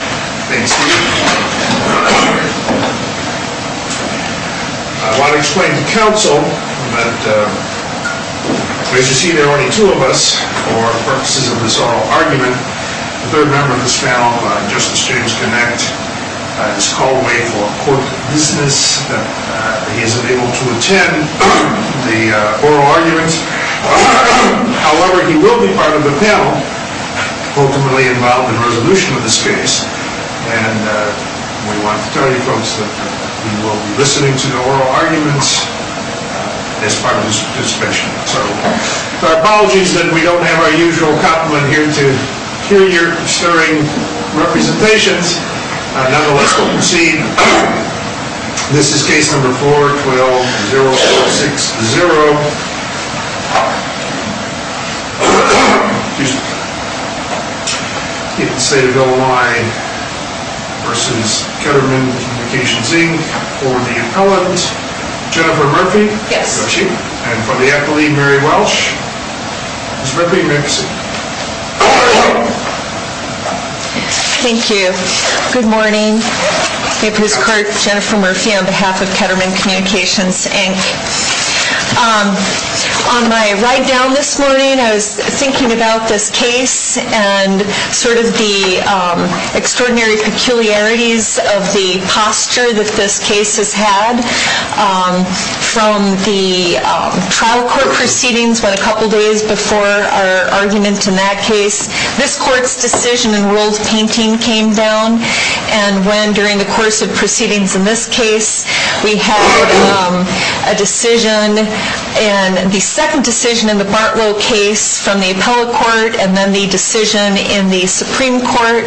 I want to explain to counsel that as you see there are only two of us for purposes of this oral argument. The third member of this panel, Justice James Connacht, has called away for court business. He isn't able to attend the oral argument. However, he will be part of the panel, ultimately involved in resolution of this case. And we want to tell you folks that we will be listening to the oral arguments as part of this discussion. So our apologies that we don't have our usual compliment here to hear your stirring representations. Nonetheless, we'll proceed. This is case number 4-12-0460. State of Illinois v. Ketterman Communications, Inc. For the appellant, Jennifer Murphy. Yes. And for the appellee, Mary Welch. Ms. Murphy, you may proceed. Thank you. Good morning. Jennifer Murphy on behalf of Ketterman Communications, Inc. On my ride down this morning, I was thinking about this case and sort of the extraordinary peculiarities of the posture that this case has had. From the trial court proceedings, about a couple days before our argument in that case, this court's decision in world painting came down. And when, during the course of proceedings in this case, we had a decision and the second decision in the Bartlow case from the appellate court, and then the decision in the Supreme Court,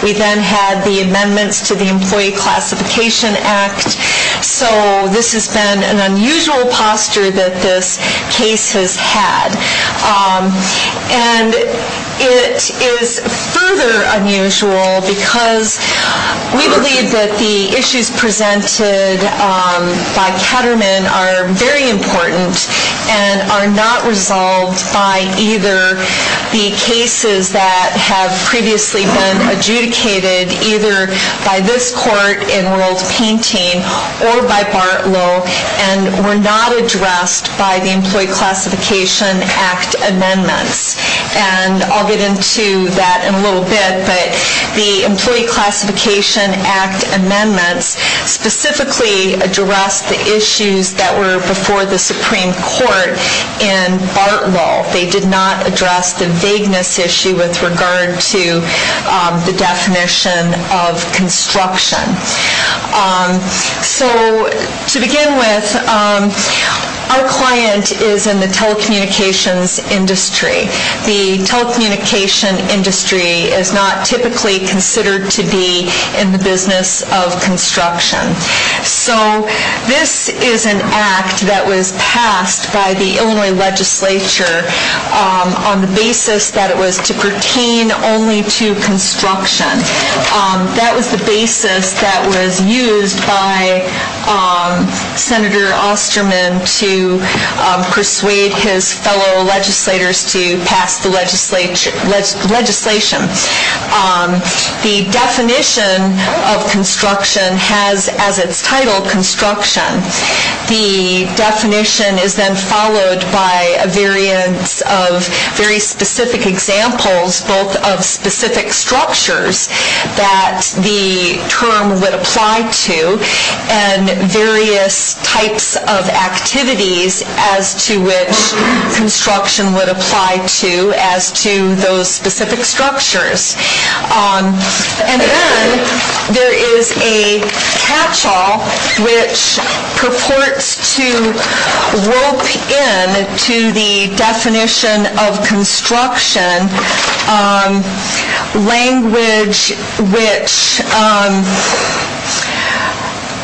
we then had the amendments to the Employee Classification Act. So this has been an unusual posture that this case has had. And it is further unusual because we believe that the issues presented by Ketterman are very important and are not resolved by either the cases that have previously been adjudicated either by this court in world painting or by Bartlow, and were not addressed by the Employee Classification Act amendments. And I'll get into that in a little bit, but the Employee Classification Act amendments specifically addressed the issues that were before the Supreme Court in Bartlow. They did not address the vagueness issue with regard to the definition of construction. So to begin with, our client is in the telecommunications industry. The telecommunications industry is not typically considered to be in the business of construction. So this is an act that was passed by the Illinois legislature on the basis that it was to pertain only to construction. That was the basis that was used by Senator Osterman to persuade his fellow legislators to pass the legislation. The definition of construction has as its title construction. The definition is then followed by a variance of very specific examples both of specific structures that the term would apply to and various types of activities as to which construction would apply to as to those specific structures. And then there is a catch-all which purports to rope in to the definition of construction language which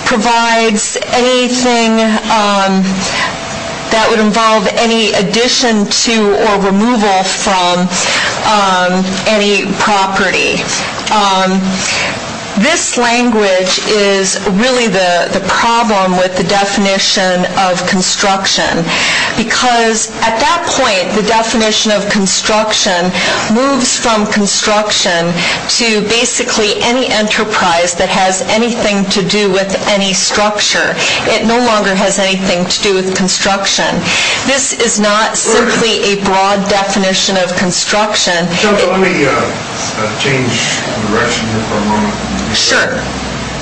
provides anything that would involve any addition to or removal from any property. This language is really the problem with the definition of construction because at that point the definition of construction moves from construction to basically any enterprise that has anything to do with any structure. It no longer has anything to do with construction. This is not simply a broad definition of construction. Senator, let me change direction here for a moment. Sure.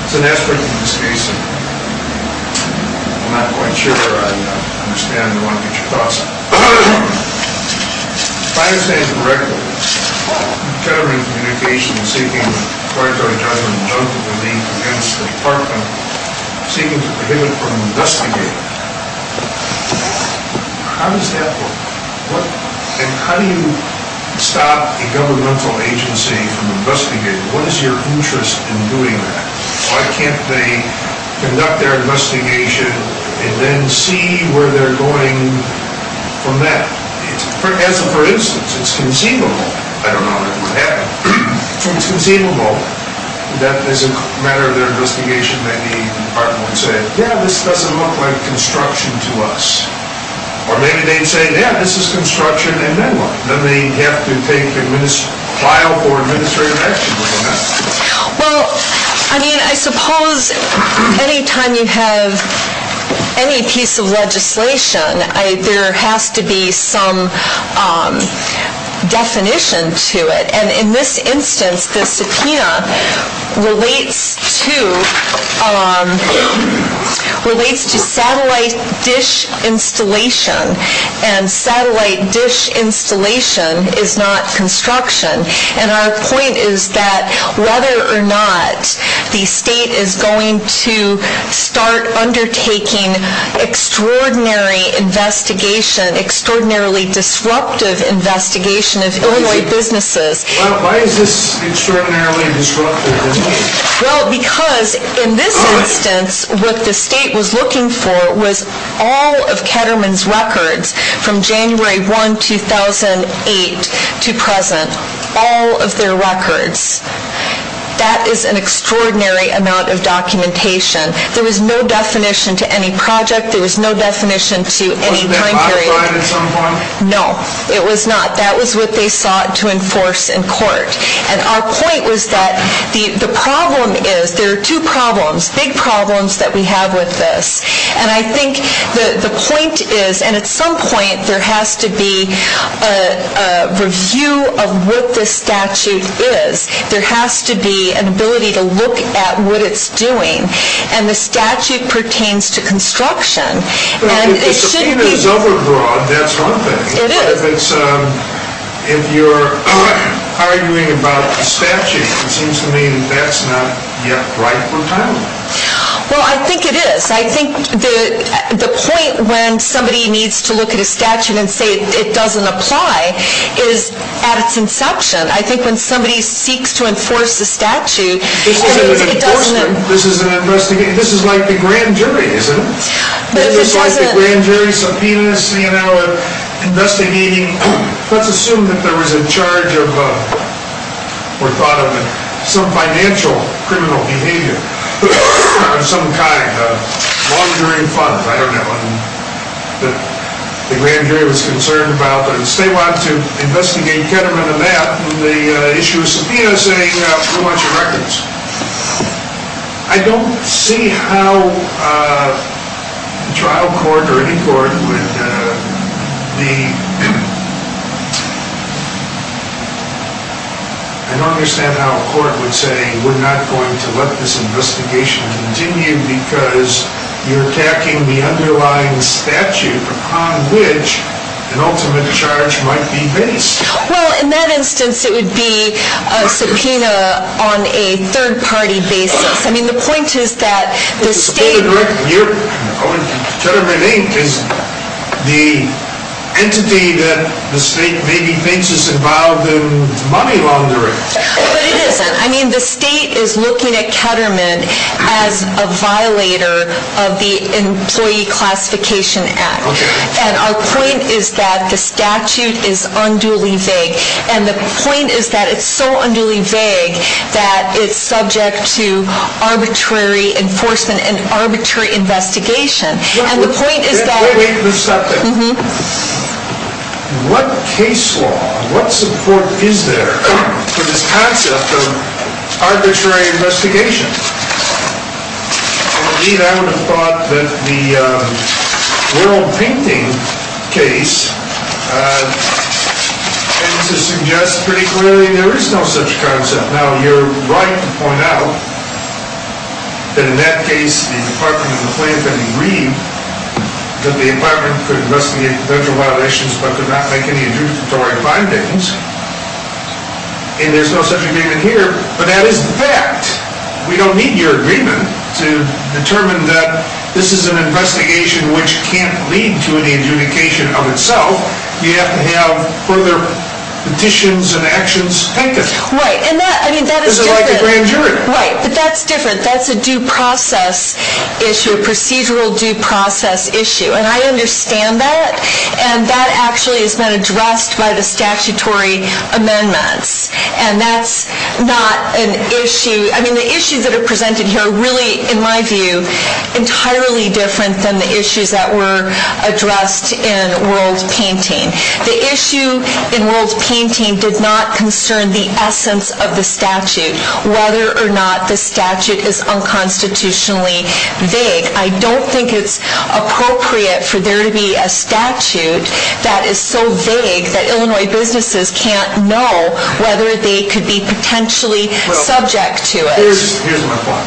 As an expert in this case, I'm not quite sure I understand the one that you're talking about. If I understand you correctly, government communications seeking a court-ordered judgment against the department seeking to prohibit from investigating. How does that work? And how do you stop a governmental agency from investigating? What is your interest in doing that? Why can't they conduct their investigation and then see where they're going from that? As a for instance, it's conceivable. I don't know how that would happen. It's conceivable that as a matter of their investigation, maybe the department would say, yeah, this doesn't look like construction to us. Or maybe they'd say, yeah, this is construction and then what? Then they'd have to file for administrative action. Well, I mean, I suppose anytime you have any piece of legislation, there has to be some definition to it. And in this instance, the subpoena relates to satellite dish installation. And satellite dish installation is not construction. And our point is that whether or not the state is going to start undertaking extraordinary investigation, extraordinarily disruptive investigation of Illinois businesses. Why is this extraordinarily disruptive? Well, because in this instance, what the state was looking for was all of Ketterman's records from January 1, 2008 to present, all of their records. That is an extraordinary amount of documentation. There was no definition to any project. There was no definition to any time period. Was that modified at some point? No, it was not. That was what they sought to enforce in court. And our point was that the problem is, there are two problems, big problems that we have with this. And I think the point is, and at some point there has to be a review of what this statute is. There has to be an ability to look at what it's doing. And the statute pertains to construction. Well, if the subpoena is overbroad, that's one thing. It is. But if you're arguing about the statute, it seems to me that that's not yet right or timely. Well, I think it is. I think the point when somebody needs to look at a statute and say it doesn't apply is at its inception. I think when somebody seeks to enforce a statute, it doesn't. This is an investigation. This is like the grand jury, isn't it? It's like the grand jury subpoenas, you know, investigating. Let's assume that there was a charge of, or thought of, some financial criminal behavior of some kind. A long-during fund, I don't know, that the grand jury was concerned about. But if they want to investigate Ketterman and that, the issue of subpoena is a whole bunch of records. I don't see how a trial court or any court would be, I don't understand how a court would say, we're not going to let this investigation continue because you're attacking the underlying statute upon which an ultimate charge might be based. Well, in that instance, it would be a subpoena on a third-party basis. I mean, the point is that the state— The subpoena director, Ketterman Inc., is the entity that the state maybe thinks is involved in money laundering. But it isn't. I mean, the state is looking at Ketterman as a violator of the Employee Classification Act. And our point is that the statute is unduly vague. And the point is that it's so unduly vague that it's subject to arbitrary enforcement and arbitrary investigation. And the point is that— Wait a second. What case law, what support is there for this concept of arbitrary investigation? Indeed, I would have thought that the World Painting case tends to suggest pretty clearly there is no such concept. But now you're right to point out that in that case, the Department of the Plaintiff agreed that the Department could investigate potential violations but could not make any adjudicatory findings. And there's no such agreement here. But that is the fact. We don't need your agreement to determine that this is an investigation which can't lead to any adjudication of itself. You have to have further petitions and actions taken. Right. I mean, that is different. This is like a grand jury. Right. But that's different. That's a due process issue, a procedural due process issue. And I understand that. And that actually has been addressed by the statutory amendments. And that's not an issue—I mean, the issues that are presented here are really, in my view, entirely different than the issues that were addressed in World Painting. The issue in World Painting did not concern the essence of the statute, whether or not the statute is unconstitutionally vague. I don't think it's appropriate for there to be a statute that is so vague that Illinois businesses can't know whether they could be potentially subject to it. Here's my point.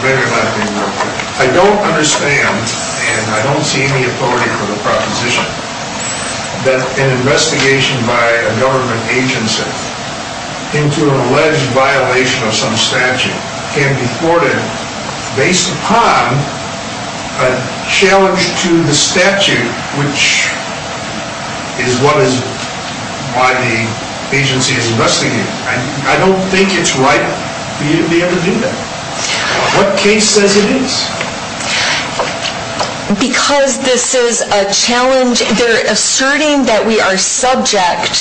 I don't understand, and I don't see any authority for the proposition, that an investigation by a government agency into an alleged violation of some statute can be thwarted based upon a challenge to the statute, which is what is—why the agency is investigating. I don't think it's right for you to be able to do that. What case says it is? Because this is a challenge—they're asserting that we are subject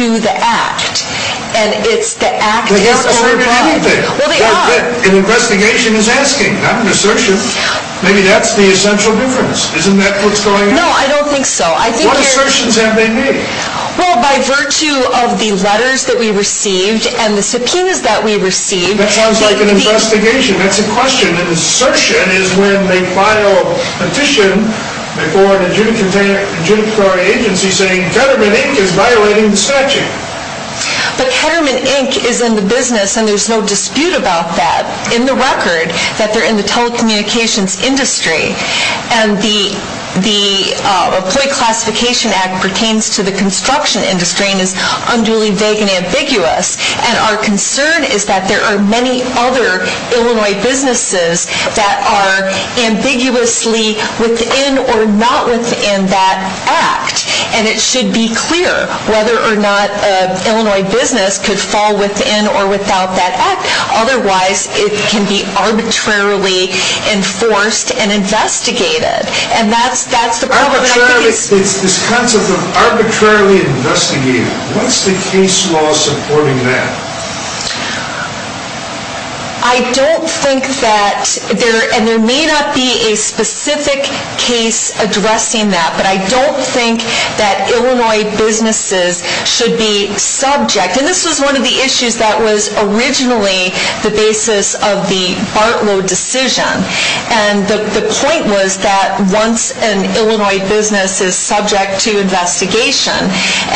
to the act, and it's the act— They haven't asserted anything. Well, they are. An investigation is asking, not an assertion. Maybe that's the essential difference. Isn't that what's going on? No, I don't think so. What assertions have they made? Well, by virtue of the letters that we received and the subpoenas that we received— That sounds like an investigation. That's a question. An assertion is when they file a petition before an adjudicatory agency saying Ketterman, Inc. is violating the statute. But Ketterman, Inc. is in the business, and there's no dispute about that, in the record, that they're in the telecommunications industry. And the Employee Classification Act pertains to the construction industry and is unduly vague and ambiguous. And our concern is that there are many other Illinois businesses that are ambiguously within or not within that act. And it should be clear whether or not an Illinois business could fall within or without that act. Otherwise, it can be arbitrarily enforced and investigated. And that's the problem. It's this concept of arbitrarily investigating. What's the case law supporting that? I don't think that—and there may not be a specific case addressing that. But I don't think that Illinois businesses should be subject. And this was one of the issues that was originally the basis of the Bartlow decision. And the point was that once an Illinois business is subject to investigation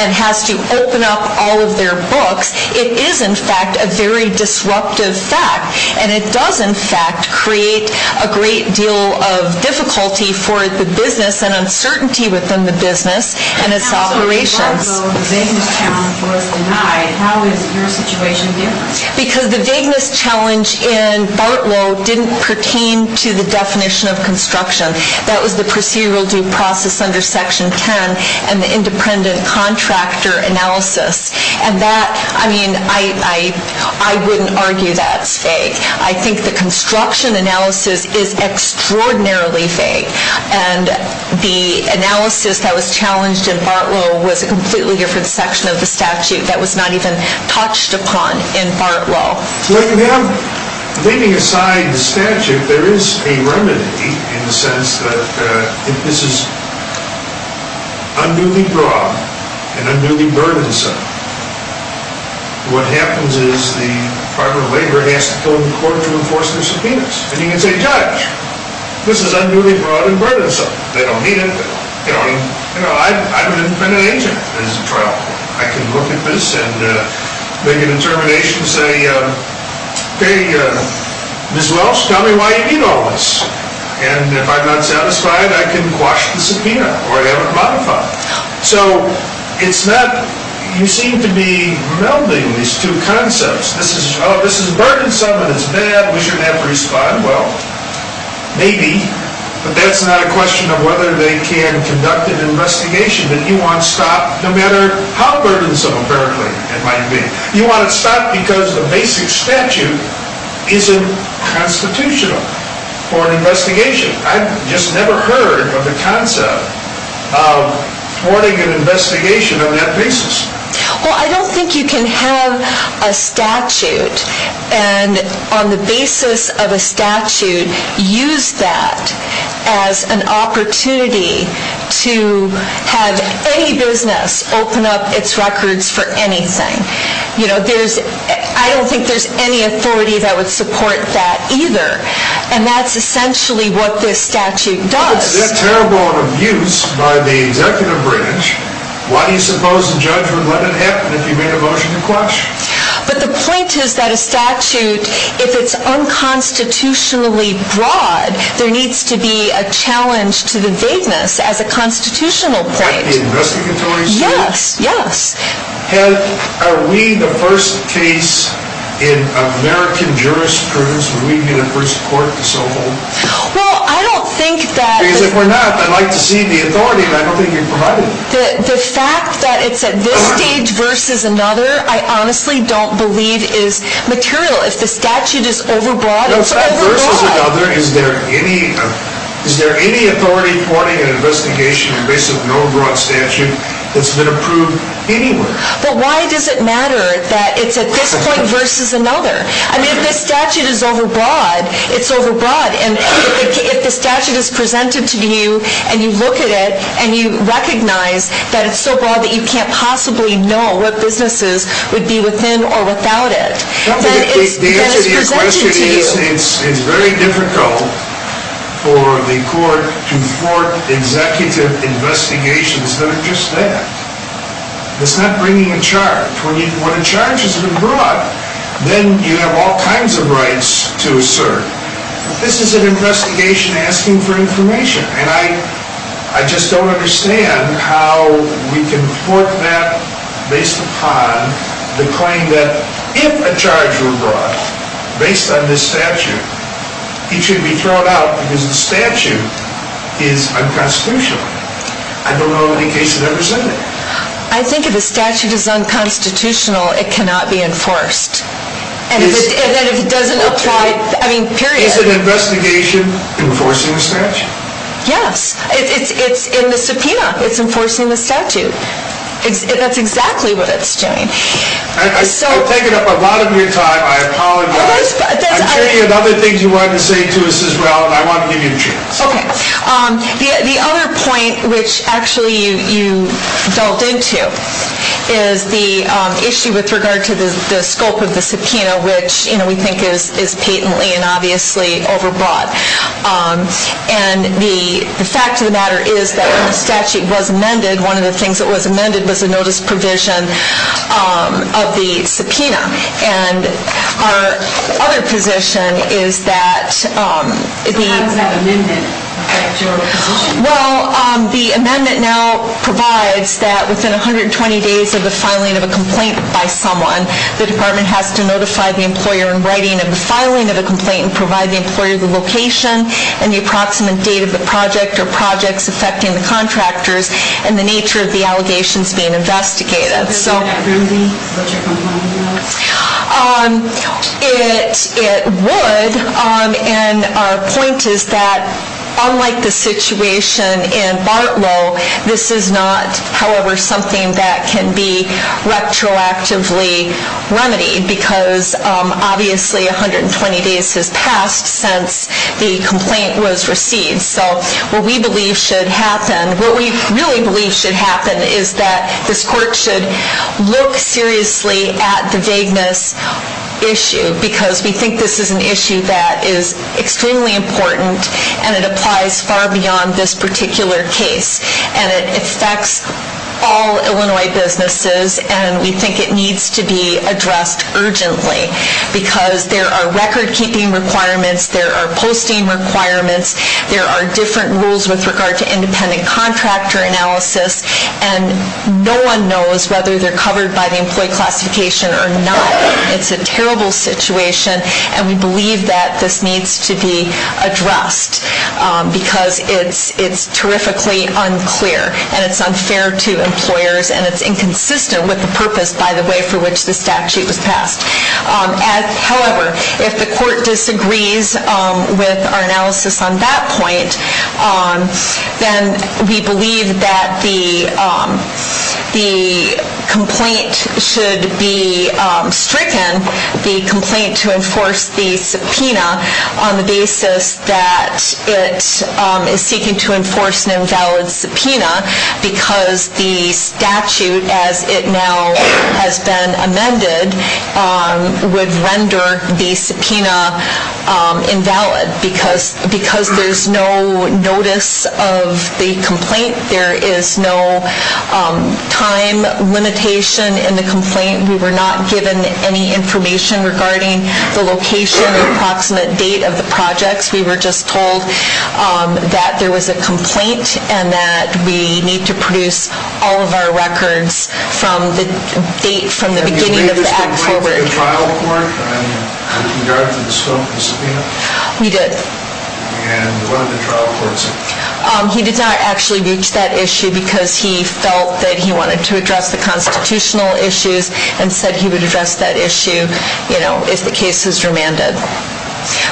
and has to open up all of their books, it is, in fact, a very disruptive fact. And it does, in fact, create a great deal of difficulty for the business and uncertainty within the business and its operations. Although the vagueness challenge was denied, how is your situation different? Because the vagueness challenge in Bartlow didn't pertain to the definition of construction. That was the procedural due process under Section 10 and the independent contractor analysis. And that—I mean, I wouldn't argue that's vague. I think the construction analysis is extraordinarily vague. And the analysis that was challenged in Bartlow was a completely different section of the statute that was not even touched upon in Bartlow. Well, you have—leaving aside the statute, there is a remedy in the sense that if this is unduly broad and unduly burdensome, what happens is the Department of Labor has to go to court to enforce their subpoenas. And you can say, judge, this is unduly broad and burdensome. They don't need it. They don't need—you know, I've been an agent. There's a trial. I can look at this and make a determination and say, hey, Ms. Welsh, tell me why you need all this. And if I'm not satisfied, I can quash the subpoena or have it modified. So it's not—you seem to be melding these two concepts. This is—oh, this is burdensome and it's bad. We shouldn't have to respond. Well, maybe, but that's not a question of whether they can conduct an investigation. But you want to stop no matter how burdensome empirically it might be. You want to stop because the basic statute isn't constitutional for an investigation. I've just never heard of the concept of thwarting an investigation on that basis. Well, I don't think you can have a statute and, on the basis of a statute, use that as an opportunity to have any business open up its records for anything. You know, there's—I don't think there's any authority that would support that either. And that's essentially what this statute does. If they're terrible in abuse by the executive branch, why do you suppose the judge would let it happen if he made a motion to quash? But the point is that a statute, if it's unconstitutionally broad, there needs to be a challenge to the vagueness as a constitutional point. Like the investigatory statute? Yes, yes. Are we the first case in American jurisprudence, would we be the first court to so hold? Well, I don't think that— Because if we're not, I'd like to see the authority, but I don't think you've provided it. The fact that it's at this stage versus another, I honestly don't believe is material. If the statute is overbroad, it's overbroad. No, it's not versus another. Is there any authority thwarting an investigation on the basis of no broad statute that's been approved anywhere? But why does it matter that it's at this point versus another? I mean, if the statute is overbroad, it's overbroad. And if the statute is presented to you, and you look at it, and you recognize that it's so broad that you can't possibly know what businesses would be within or without it, then it's presented to you. The answer to your question is it's very difficult for the court to thwart executive investigations that are just that. It's not bringing a charge. When a charge has been brought, then you have all kinds of rights to assert. This is an investigation asking for information, and I just don't understand how we can thwart that based upon the claim that if a charge were brought based on this statute, it should be thrown out because the statute is unconstitutional. I don't know of any case that ever said that. I think if the statute is unconstitutional, it cannot be enforced. And then if it doesn't apply, I mean, period. Is an investigation enforcing the statute? It's in the subpoena. It's enforcing the statute. That's exactly what it's doing. I've taken up a lot of your time. I apologize. I'm sure you had other things you wanted to say to us as well, and I want to give you a chance. The other point, which actually you delved into, is the issue with regard to the scope of the subpoena, which we think is patently and obviously overbought. And the fact of the matter is that when the statute was amended, one of the things that was amended was a notice provision of the subpoena. And our other position is that the ‑‑ So how does that amendment affect your position? Well, the amendment now provides that within 120 days of the filing of a complaint by someone, the department has to notify the employer in writing of the filing of a complaint and provide the employer the location and the approximate date of the project or projects affecting the contractors and the nature of the allegations being investigated. Would that remedy what your complaint does? It would. And our point is that unlike the situation in Bartlow, this is not, however, something that can be retroactively remedied because obviously 120 days has passed since the complaint was received. So what we believe should happen, what we really believe should happen, is that this court should look seriously at the vagueness issue because we think this is an issue that is extremely important and it applies far beyond this particular case and it affects all Illinois businesses and we think it needs to be addressed urgently because there are recordkeeping requirements, there are posting requirements, there are different rules with regard to independent contractor analysis and no one knows whether they're covered by the employee classification or not. It's a terrible situation and we believe that this needs to be addressed because it's terrifically unclear and it's unfair to employers and it's inconsistent with the purpose, by the way, for which the statute was passed. However, if the court disagrees with our analysis on that point, then we believe that the complaint should be stricken, the complaint to enforce the subpoena, on the basis that it is seeking to enforce an invalid subpoena because the statute as it now has been amended would render the subpoena invalid because there's no notice of the complaint, there is no time limitation in the complaint, we were not given any information regarding the location, the approximate date of the projects, we were just told that there was a complaint and that we need to produce all of our records from the date, Did you reach the trial court with regard to the scope of the subpoena? We did. And what did the trial court say? He did not actually reach that issue because he felt that he wanted to address the constitutional issues and said he would address that issue if the case was remanded.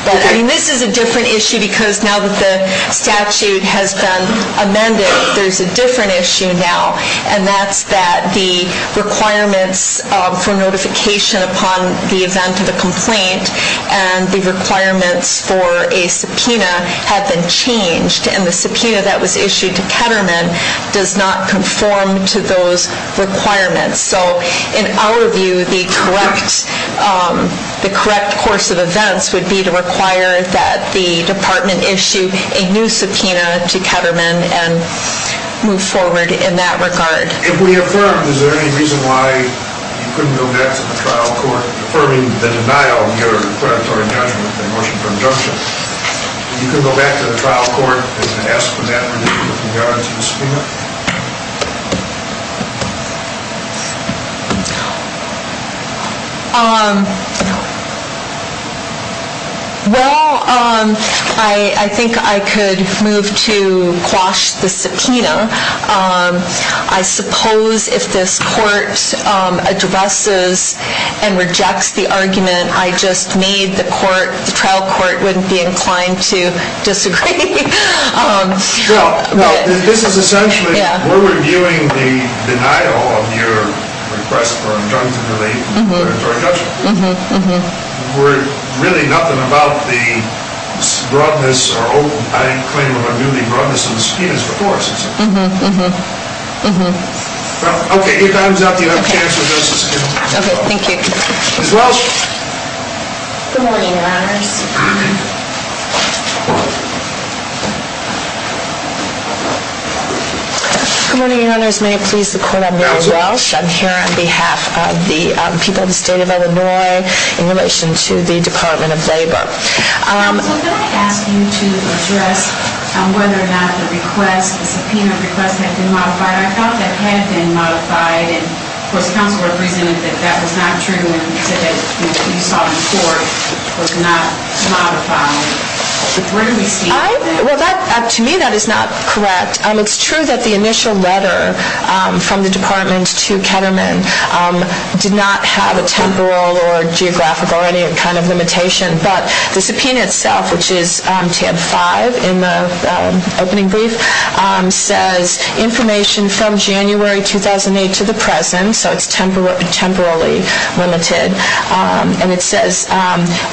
But this is a different issue because now that the statute has been amended, there's a different issue now and that's that the requirements for notification upon the event of a complaint and the requirements for a subpoena have been changed and the subpoena that was issued to Ketterman does not conform to those requirements. So in our view, the correct course of events would be to require that the department issue a new subpoena to Ketterman and move forward in that regard. If we affirm, is there any reason why you couldn't go back to the trial court affirming the denial of your predatory judgment in the motion for injunction? You couldn't go back to the trial court and ask for that relief with regard to the subpoena? Well, I think I could move to quash the subpoena. I suppose if this court addresses and rejects the argument I just made, the trial court wouldn't be inclined to disagree. Well, no, this is essentially, we're reviewing the denial of your request for injunction relief and predatory judgment. We're really nothing about the broadness or, I claim, of a newly broadness of the subpoenas, of course. Mm-hmm. Well, okay. If that is not the enough case, we'll do a subpoena. Okay. Thank you. Ms. Walsh? Good morning, Your Honors. Good morning, Your Honors. May it please the Court, I'm Mary Walsh. I'm here on behalf of the people of the State of Illinois in relation to the Department of Labor. Counsel, did I ask you to address whether or not the request, the subpoena request, had been modified? I thought that had been modified. And, of course, the counsel represented that that was not true and that you saw before was not modified. But where do we see that? Well, to me, that is not correct. It's true that the initial letter from the Department to Ketterman did not have a temporal or geographical or any kind of limitation, but the subpoena itself, which is tab 5 in the opening brief, says information from January 2008 to the present, so it's temporally limited. And it says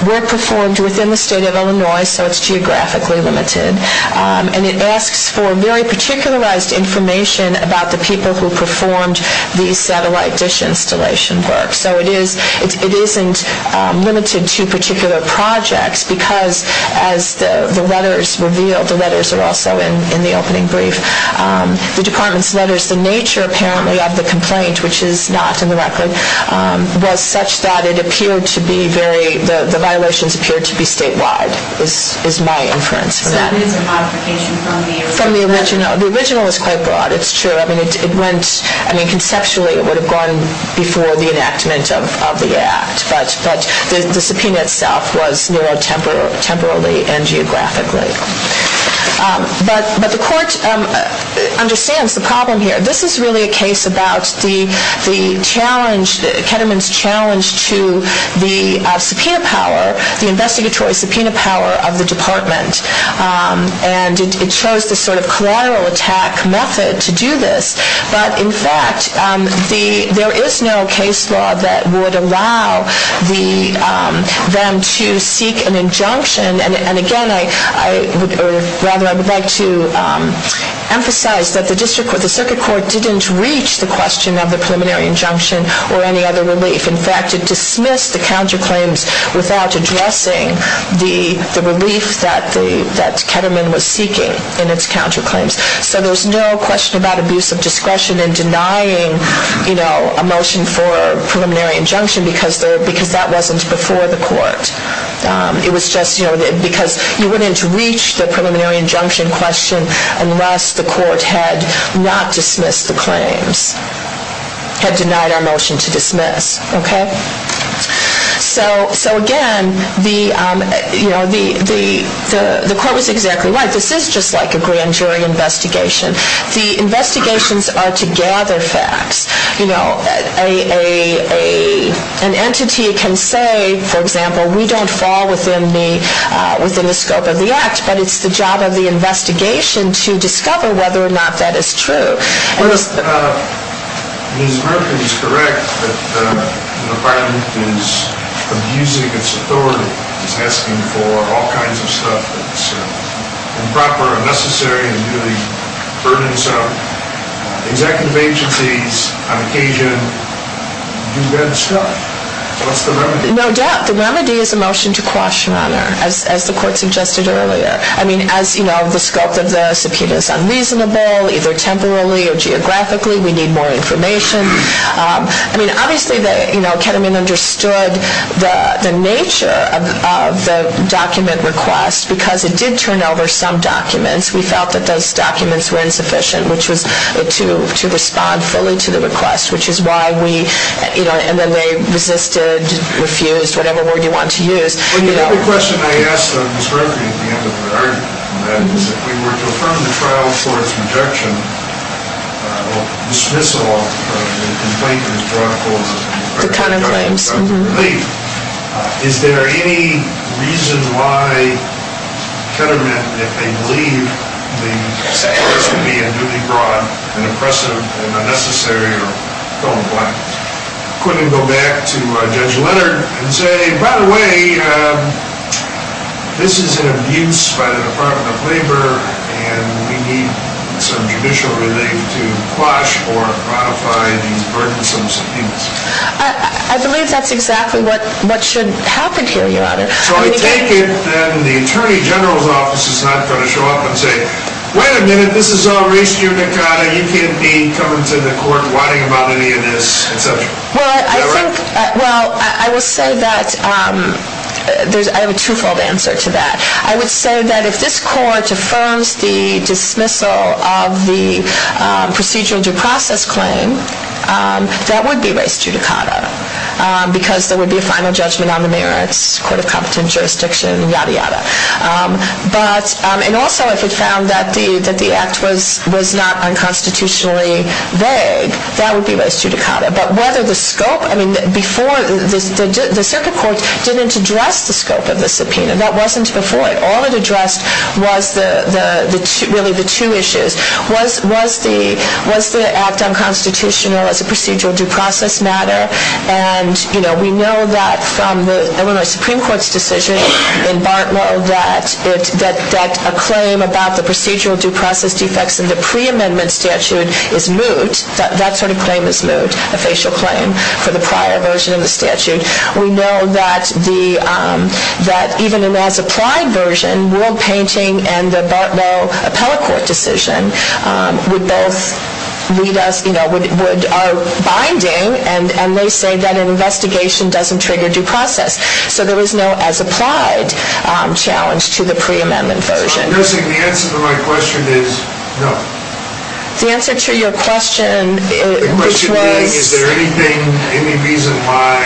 work performed within the State of Illinois, so it's geographically limited. And it asks for very particularized information about the people who performed the satellite dish installation work. So it isn't limited to particular projects because, as the letters reveal, the letters are also in the opening brief. The Department's letters, the nature apparently of the complaint, which is not in the record, was such that it appeared to be very, the violations appeared to be statewide, is my inference. So it is a modification from the original? From the original. The original is quite broad. It's true. I mean, it went, I mean, conceptually it would have gone before the enactment of the act. But the subpoena itself was neurotemporally and geographically. But the Court understands the problem here. This is really a case about the challenge, Ketterman's challenge to the subpoena power, the investigatory subpoena power of the Department. And it shows the sort of collateral attack method to do this. But, in fact, there is no case law that would allow them to seek an injunction. And, again, I would like to emphasize that the Circuit Court didn't reach the question of the preliminary injunction or any other relief. In fact, it dismissed the counterclaims without addressing the relief that Ketterman was seeking in its counterclaims. So there's no question about abuse of discretion in denying a motion for a preliminary injunction because that wasn't before the Court. It was just because you wouldn't reach the preliminary injunction question unless the Court had not dismissed the claims, had denied our motion to dismiss. Okay? So, again, the Court was exactly right. This is just like a grand jury investigation. The investigations are to gather facts. You know, an entity can say, for example, we don't fall within the scope of the act, but it's the job of the investigation to discover whether or not that is true. Ms. Murphy is correct that the department is abusing its authority. It's asking for all kinds of stuff that's improper, unnecessary, and really burdensome. Executive agencies, on occasion, do bad stuff. What's the remedy? No doubt the remedy is a motion to quash an honor, as the Court suggested earlier. I mean, as you know, the scope of the subpoena is unreasonable, either temporarily or geographically. We need more information. I mean, obviously, you know, Ketterman understood the nature of the document request because it did turn over some documents. We felt that those documents were insufficient, which was to respond fully to the request, which is why we, you know, and then they resisted, refused, whatever word you want to use. Well, you know, the question I asked Ms. Murphy at the end of the argument on that is if we were to affirm the trial for its rejection, or dismissal of the complaint that was brought forth. The counterclaims. The counterclaims. Is there any reason why Ketterman, if they believe the request would be unduly broad, and oppressive, and unnecessary, or don't like it, couldn't go back to Judge Leonard and say, by the way, this is an abuse by the Department of Labor, and we need some judicial relief to quash or modify these burdensome subpoenas. I believe that's exactly what should happen here. So I take it that the Attorney General's Office is not going to show up and say, wait a minute, this is all res judicata. You can't be coming to the court whining about any of this, et cetera. Well, I think, well, I will say that I have a twofold answer to that. I would say that if this court affirms the dismissal of the procedural due process claim, that would be res judicata, because there would be a final judgment on the merits, Court of Competent Jurisdiction, yada, yada. And also, if it found that the act was not unconstitutionally vague, that would be res judicata. But whether the scope, I mean, before, the circuit court didn't address the scope of the subpoena. That wasn't before. All it addressed was really the two issues. Was the act unconstitutional as a procedural due process matter? And we know that from the Illinois Supreme Court's decision in Bartlow that a claim about the procedural due process defects in the preamendment statute is moot. That sort of claim is moot, a facial claim for the prior version of the statute. We know that even in that supplied version, World Painting and the Bartlow appellate court decision would both lead us, you know, would, are binding, and they say that an investigation doesn't trigger due process. So there was no as applied challenge to the preamendment version. So I'm guessing the answer to my question is no. The answer to your question, which was? The question being, is there anything, any reason why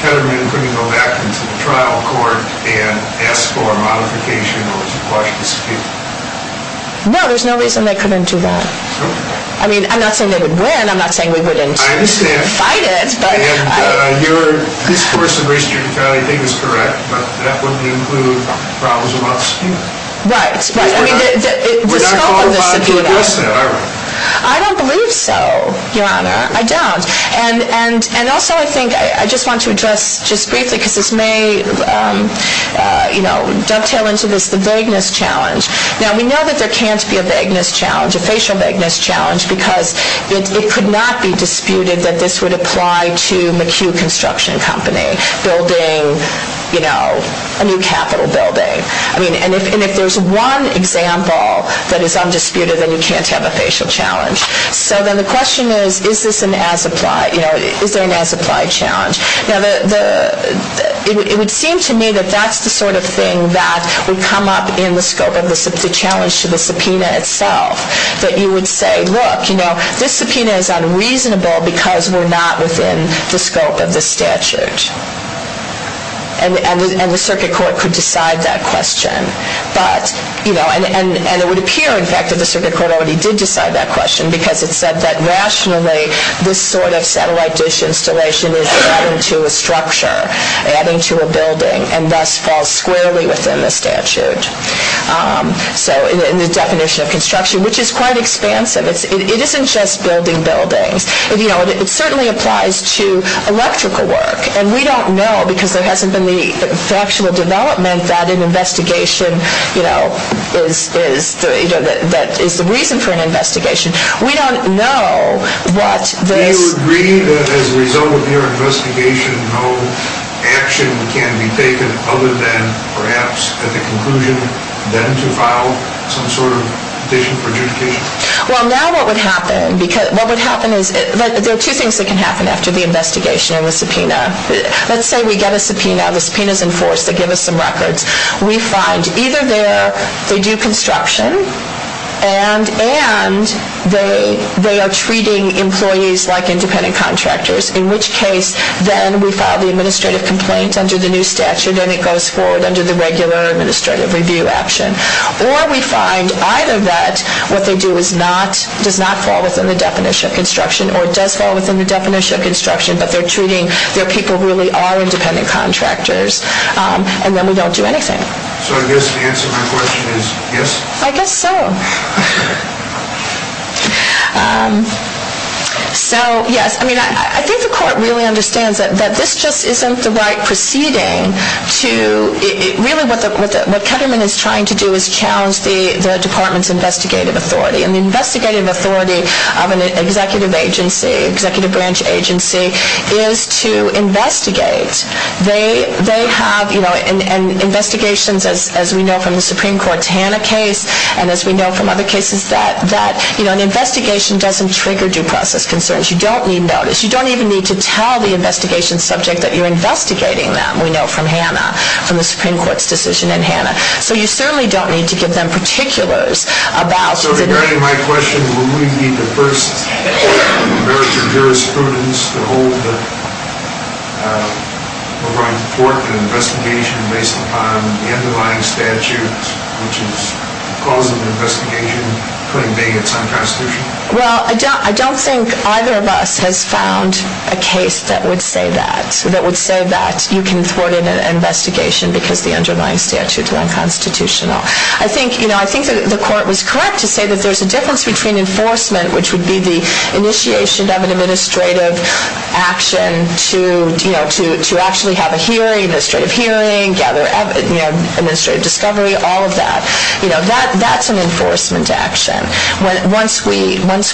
Ketterman couldn't go back into the trial court and ask for a modification or to quash the dispute? No, there's no reason they couldn't do that. I mean, I'm not saying they would win. I'm not saying we wouldn't fight it. I understand. And your discourse in relation to your trial, I think, is correct. But that wouldn't include problems about the dispute. I mean, the scope of the dispute. We're not called upon to address that, are we? I don't believe so, Your Honor. I don't. And also I think I just want to address just briefly, because this may, you know, dovetail into this, the vagueness challenge. Now, we know that there can't be a vagueness challenge, a facial vagueness challenge, because it could not be disputed that this would apply to McHugh Construction Company building, you know, a new Capitol building. I mean, and if there's one example that is undisputed, then you can't have a facial challenge. So then the question is, is this an as-applied, you know, is there an as-applied challenge? Now, it would seem to me that that's the sort of thing that would come up in the scope of the challenge to the subpoena itself, that you would say, look, you know, this subpoena is unreasonable because we're not within the scope of the statute. And the circuit court could decide that question. But, you know, and it would appear, in fact, that the circuit court already did decide that question, because it said that rationally this sort of satellite dish installation is adding to a structure, adding to a building, and thus falls squarely within the statute. So in the definition of construction, which is quite expansive, it isn't just building buildings. You know, it certainly applies to electrical work. And we don't know, because there hasn't been the factual development that an investigation, you know, is the reason for an investigation. We don't know what this... Do you agree that as a result of your investigation, no action can be taken other than perhaps at the conclusion then to file some sort of petition for adjudication? Well, now what would happen is... There are two things that can happen after the investigation and the subpoena. Let's say we get a subpoena, the subpoena is enforced, they give us some records. We find either they do construction and they are treating employees like independent contractors, in which case then we file the administrative complaint under the new statute and it goes forward under the regular administrative review action. Or we find either that what they do does not fall within the definition of construction or it does fall within the definition of construction, but they're treating their people who really are independent contractors, and then we don't do anything. So I guess the answer to my question is yes? I guess so. So, yes, I mean, I think the court really understands that this just isn't the right proceeding to... What Ketterman is trying to do is challenge the department's investigative authority, and the investigative authority of an executive agency, executive branch agency, is to investigate. They have investigations, as we know from the Supreme Court's Hanna case, and as we know from other cases, that an investigation doesn't trigger due process concerns. You don't need notice. You don't even need to tell the investigation subject that you're investigating them, as we know from Hanna, from the Supreme Court's decision in Hanna. So you certainly don't need to give them particulars about... Well, I don't think either of us has found a case that would say that, you can thwart an investigation because the underlying statute is unconstitutional. I think the court was correct to say that there's a difference between enforcement, which would be the initiation of an administrative action to actually have a hearing, administrative hearing, administrative discovery, all of that. That's an enforcement action. Once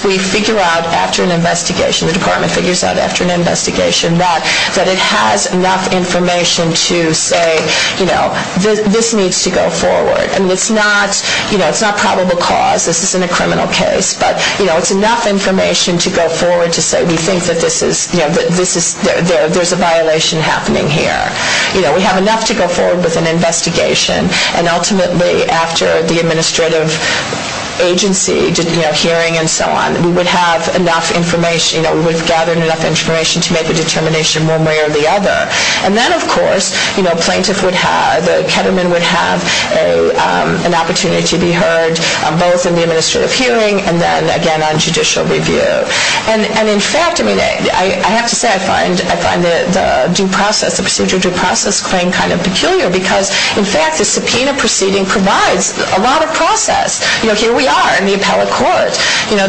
we figure out after an investigation, the department figures out after an investigation, that it has enough information to say, you know, this needs to go forward. I mean, it's not, you know, it's not probable cause. This isn't a criminal case, but, you know, it's enough information to go forward to say, we think that this is, you know, there's a violation happening here. You know, we have enough to go forward with an investigation, and ultimately, after the administrative agency, you know, hearing and so on, we would have enough information, you know, we would have gathered enough information to make a determination one way or the other. And then, of course, you know, plaintiff would have, the ketterman would have an opportunity to be heard, both in the administrative hearing and then, again, on judicial review. And, in fact, I mean, I have to say I find the due process, the procedure due process claim kind of peculiar because, in fact, the subpoena proceeding provides a lot of process. You know, here we are in the appellate court. You know,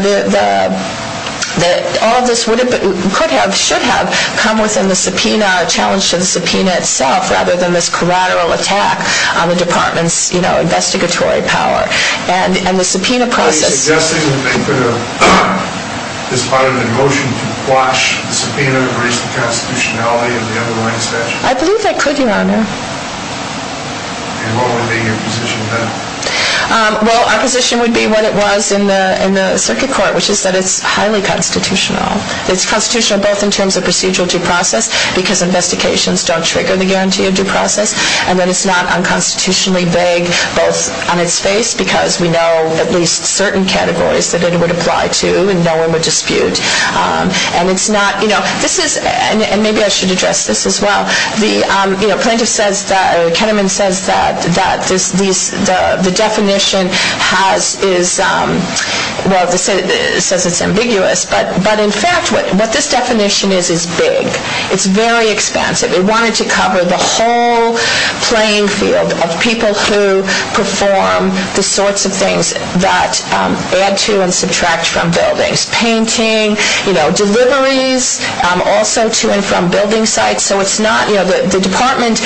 all of this would have, could have, should have come within the subpoena, a challenge to the subpoena itself rather than this collateral attack on the department's, you know, investigatory power and the subpoena process. Are you suggesting that they could have, as part of the motion, to quash the subpoena and raise the constitutionality of the underlying statute? I believe they could, Your Honor. And what would be your position then? Well, our position would be what it was in the circuit court, which is that it's highly constitutional. It's constitutional both in terms of procedural due process because investigations don't trigger the guarantee of due process and that it's not unconstitutionally vague both on its face because we know at least certain categories that it would apply to and no one would dispute. And it's not, you know, this is, and maybe I should address this as well, but the plaintiff says that, or Ketterman says that the definition has, is, well, says it's ambiguous, but in fact what this definition is, is big. It's very expansive. It wanted to cover the whole playing field of people who perform the sorts of things that add to and subtract from buildings, painting, you know, deliveries also to and from building sites. So it's not, you know, the department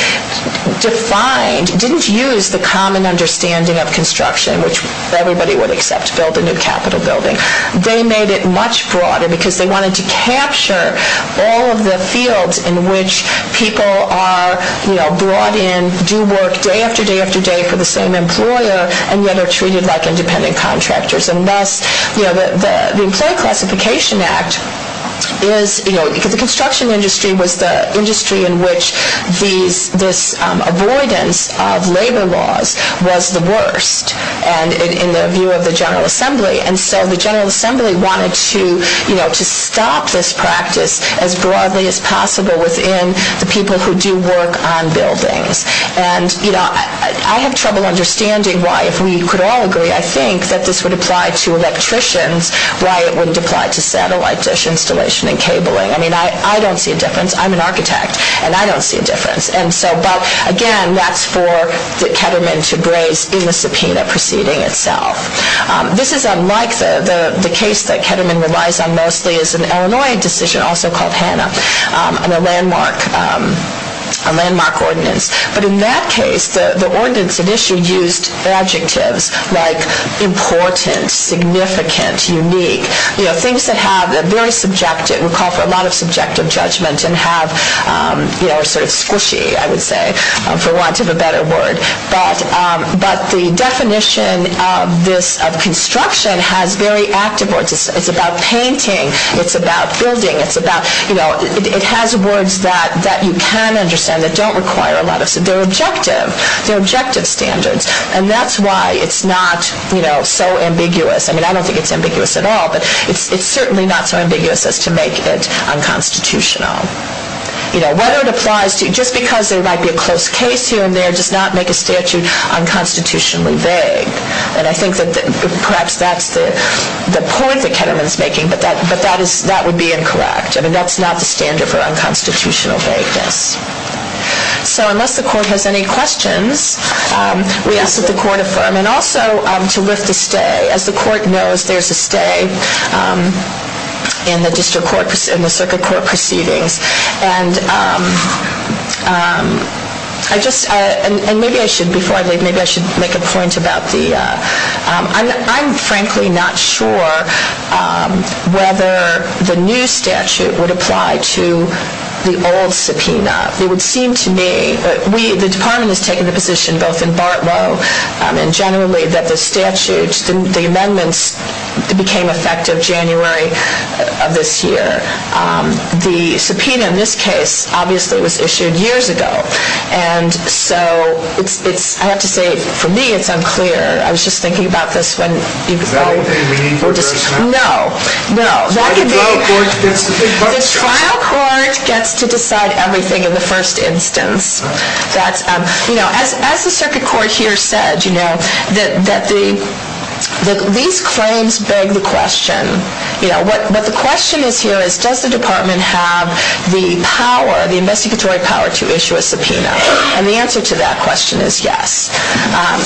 defined, didn't use the common understanding of construction, which everybody would accept to build a new capital building. They made it much broader because they wanted to capture all of the fields in which people are, you know, brought in, do work day after day after day for the same employer and yet are treated like independent contractors. And thus, you know, the Employee Classification Act is, you know, the construction industry was the industry in which these, this avoidance of labor laws was the worst, and in the view of the General Assembly. And so the General Assembly wanted to, you know, to stop this practice as broadly as possible within the people who do work on buildings. And, you know, I have trouble understanding why, if we could all agree, I think that this would apply to electricians, why it wouldn't apply to satellite dish installation and cabling. I mean, I don't see a difference. I'm an architect, and I don't see a difference. And so, but again, that's for Ketterman to graze in the subpoena proceeding itself. This is unlike the case that Ketterman relies on mostly is an Illinois decision, also called Hanna, and a landmark, a landmark ordinance. But in that case, the ordinance initially used adjectives like important, significant, unique, you know, things that have a very subjective, would call for a lot of subjective judgment and have, you know, sort of squishy, I would say, for want of a better word. But the definition of this, of construction, has very active words. It's about painting. It's about building. It's about, you know, it has words that you can understand that don't require a lot of, they're objective, they're objective standards. And that's why it's not, you know, so ambiguous. I mean, I don't think it's ambiguous at all, but it's certainly not so ambiguous as to make it unconstitutional. You know, whether it applies to, just because there might be a close case here and there does not make a statute unconstitutionally vague. And I think that perhaps that's the point that Ketterman's making, but that would be incorrect. I mean, that's not the standard for unconstitutional vagueness. So unless the court has any questions, we ask that the court affirm. And also to lift the stay. As the court knows, there's a stay in the district court, in the circuit court proceedings. And I just, and maybe I should, before I leave, maybe I should make a point about the, I'm frankly not sure whether the new statute would apply to the old subpoena. It would seem to me that we, the department has taken a position both in Bartlow and generally that the statutes, the amendments became effective January of this year. The subpoena in this case obviously was issued years ago. And so it's, I have to say, for me it's unclear. I was just thinking about this when people. Is that anything meaningful? No, no. The trial court gets to decide everything in the first instance. As the circuit court here said, these claims beg the question. What the question is here is does the department have the power, the investigatory power to issue a subpoena. And the answer to that question is yes.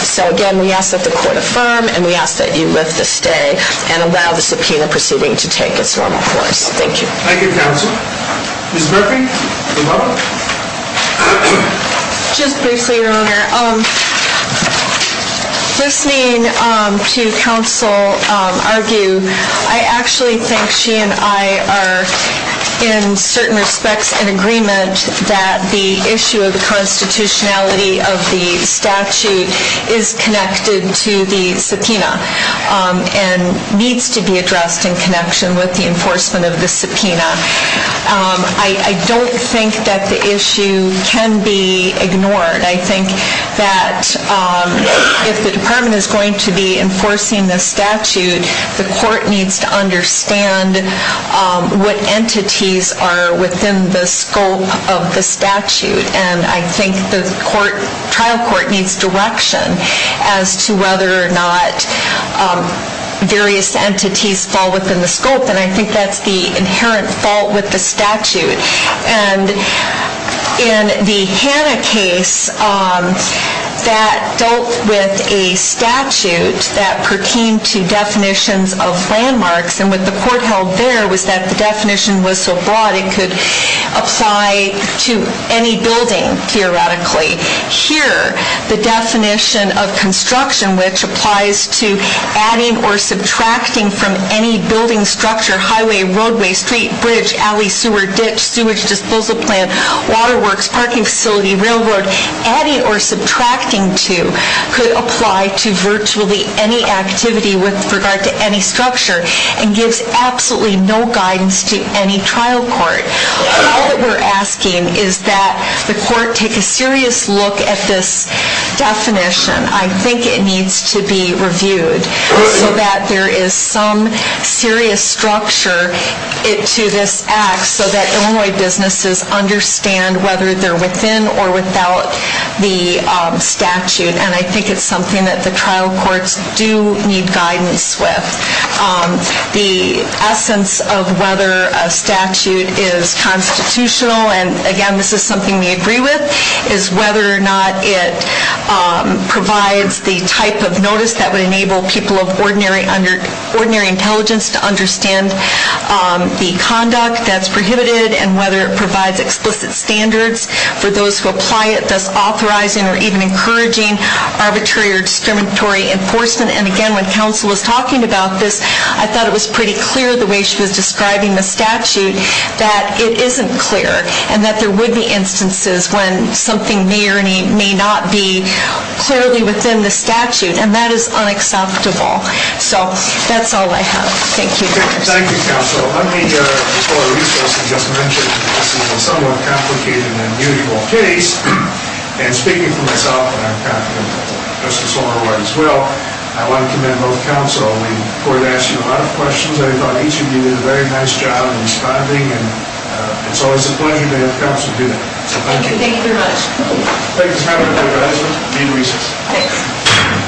So again, we ask that the court affirm, and we ask that you lift the stay and allow the subpoena proceeding to take its normal course. Thank you. Thank you, counsel. Ms. Murphy. Just briefly, Your Honor. Listening to counsel argue, I actually think she and I are in certain respects in agreement that the issue of the constitutionality of the statute is connected to the subpoena. And needs to be addressed in connection with the enforcement of the subpoena. I don't think that the issue can be ignored. I think that if the department is going to be enforcing the statute, the court needs to understand what entities are within the scope of the statute. And I think the trial court needs direction as to whether or not various entities fall within the scope. And I think that's the inherent fault with the statute. And in the Hanna case, that dealt with a statute that pertained to definitions of landmarks. And what the court held there was that the definition was so broad, it could apply to any building, theoretically. Here, the definition of construction, which applies to adding or subtracting from any building structure, highway, roadway, street, bridge, alley, sewer, ditch, sewage, disposal plant, waterworks, parking facility, railroad, adding or subtracting to could apply to virtually any activity with regard to any structure. And gives absolutely no guidance to any trial court. All that we're asking is that the court take a serious look at this definition. I think it needs to be reviewed so that there is some serious structure to this act so that Illinois businesses understand whether they're within or without the statute. And I think it's something that the trial courts do need guidance with. The essence of whether a statute is constitutional, and again, this is something we agree with, is whether or not it provides the type of notice that would enable people of ordinary intelligence to understand the conduct that's prohibited and whether it provides explicit standards for those who apply it, such as authorizing or even encouraging arbitrary or discriminatory enforcement. And again, when counsel was talking about this, I thought it was pretty clear the way she was describing the statute that it isn't clear and that there would be instances when something may or may not be clearly within the statute. And that is unacceptable. So that's all I have. Thank you. Thank you, counsel. Let me explore a resource you just mentioned. This is a somewhat complicated and immutable case. And speaking for myself, and I'm confident that Justice Longer will as well, I want to commend both counsel. The court asked you a lot of questions. I thought each of you did a very nice job in responding, and it's always a pleasure to have counsel do that. So thank you. Thank you very much. Thank you for having me, advisor. Need a resource. Thanks.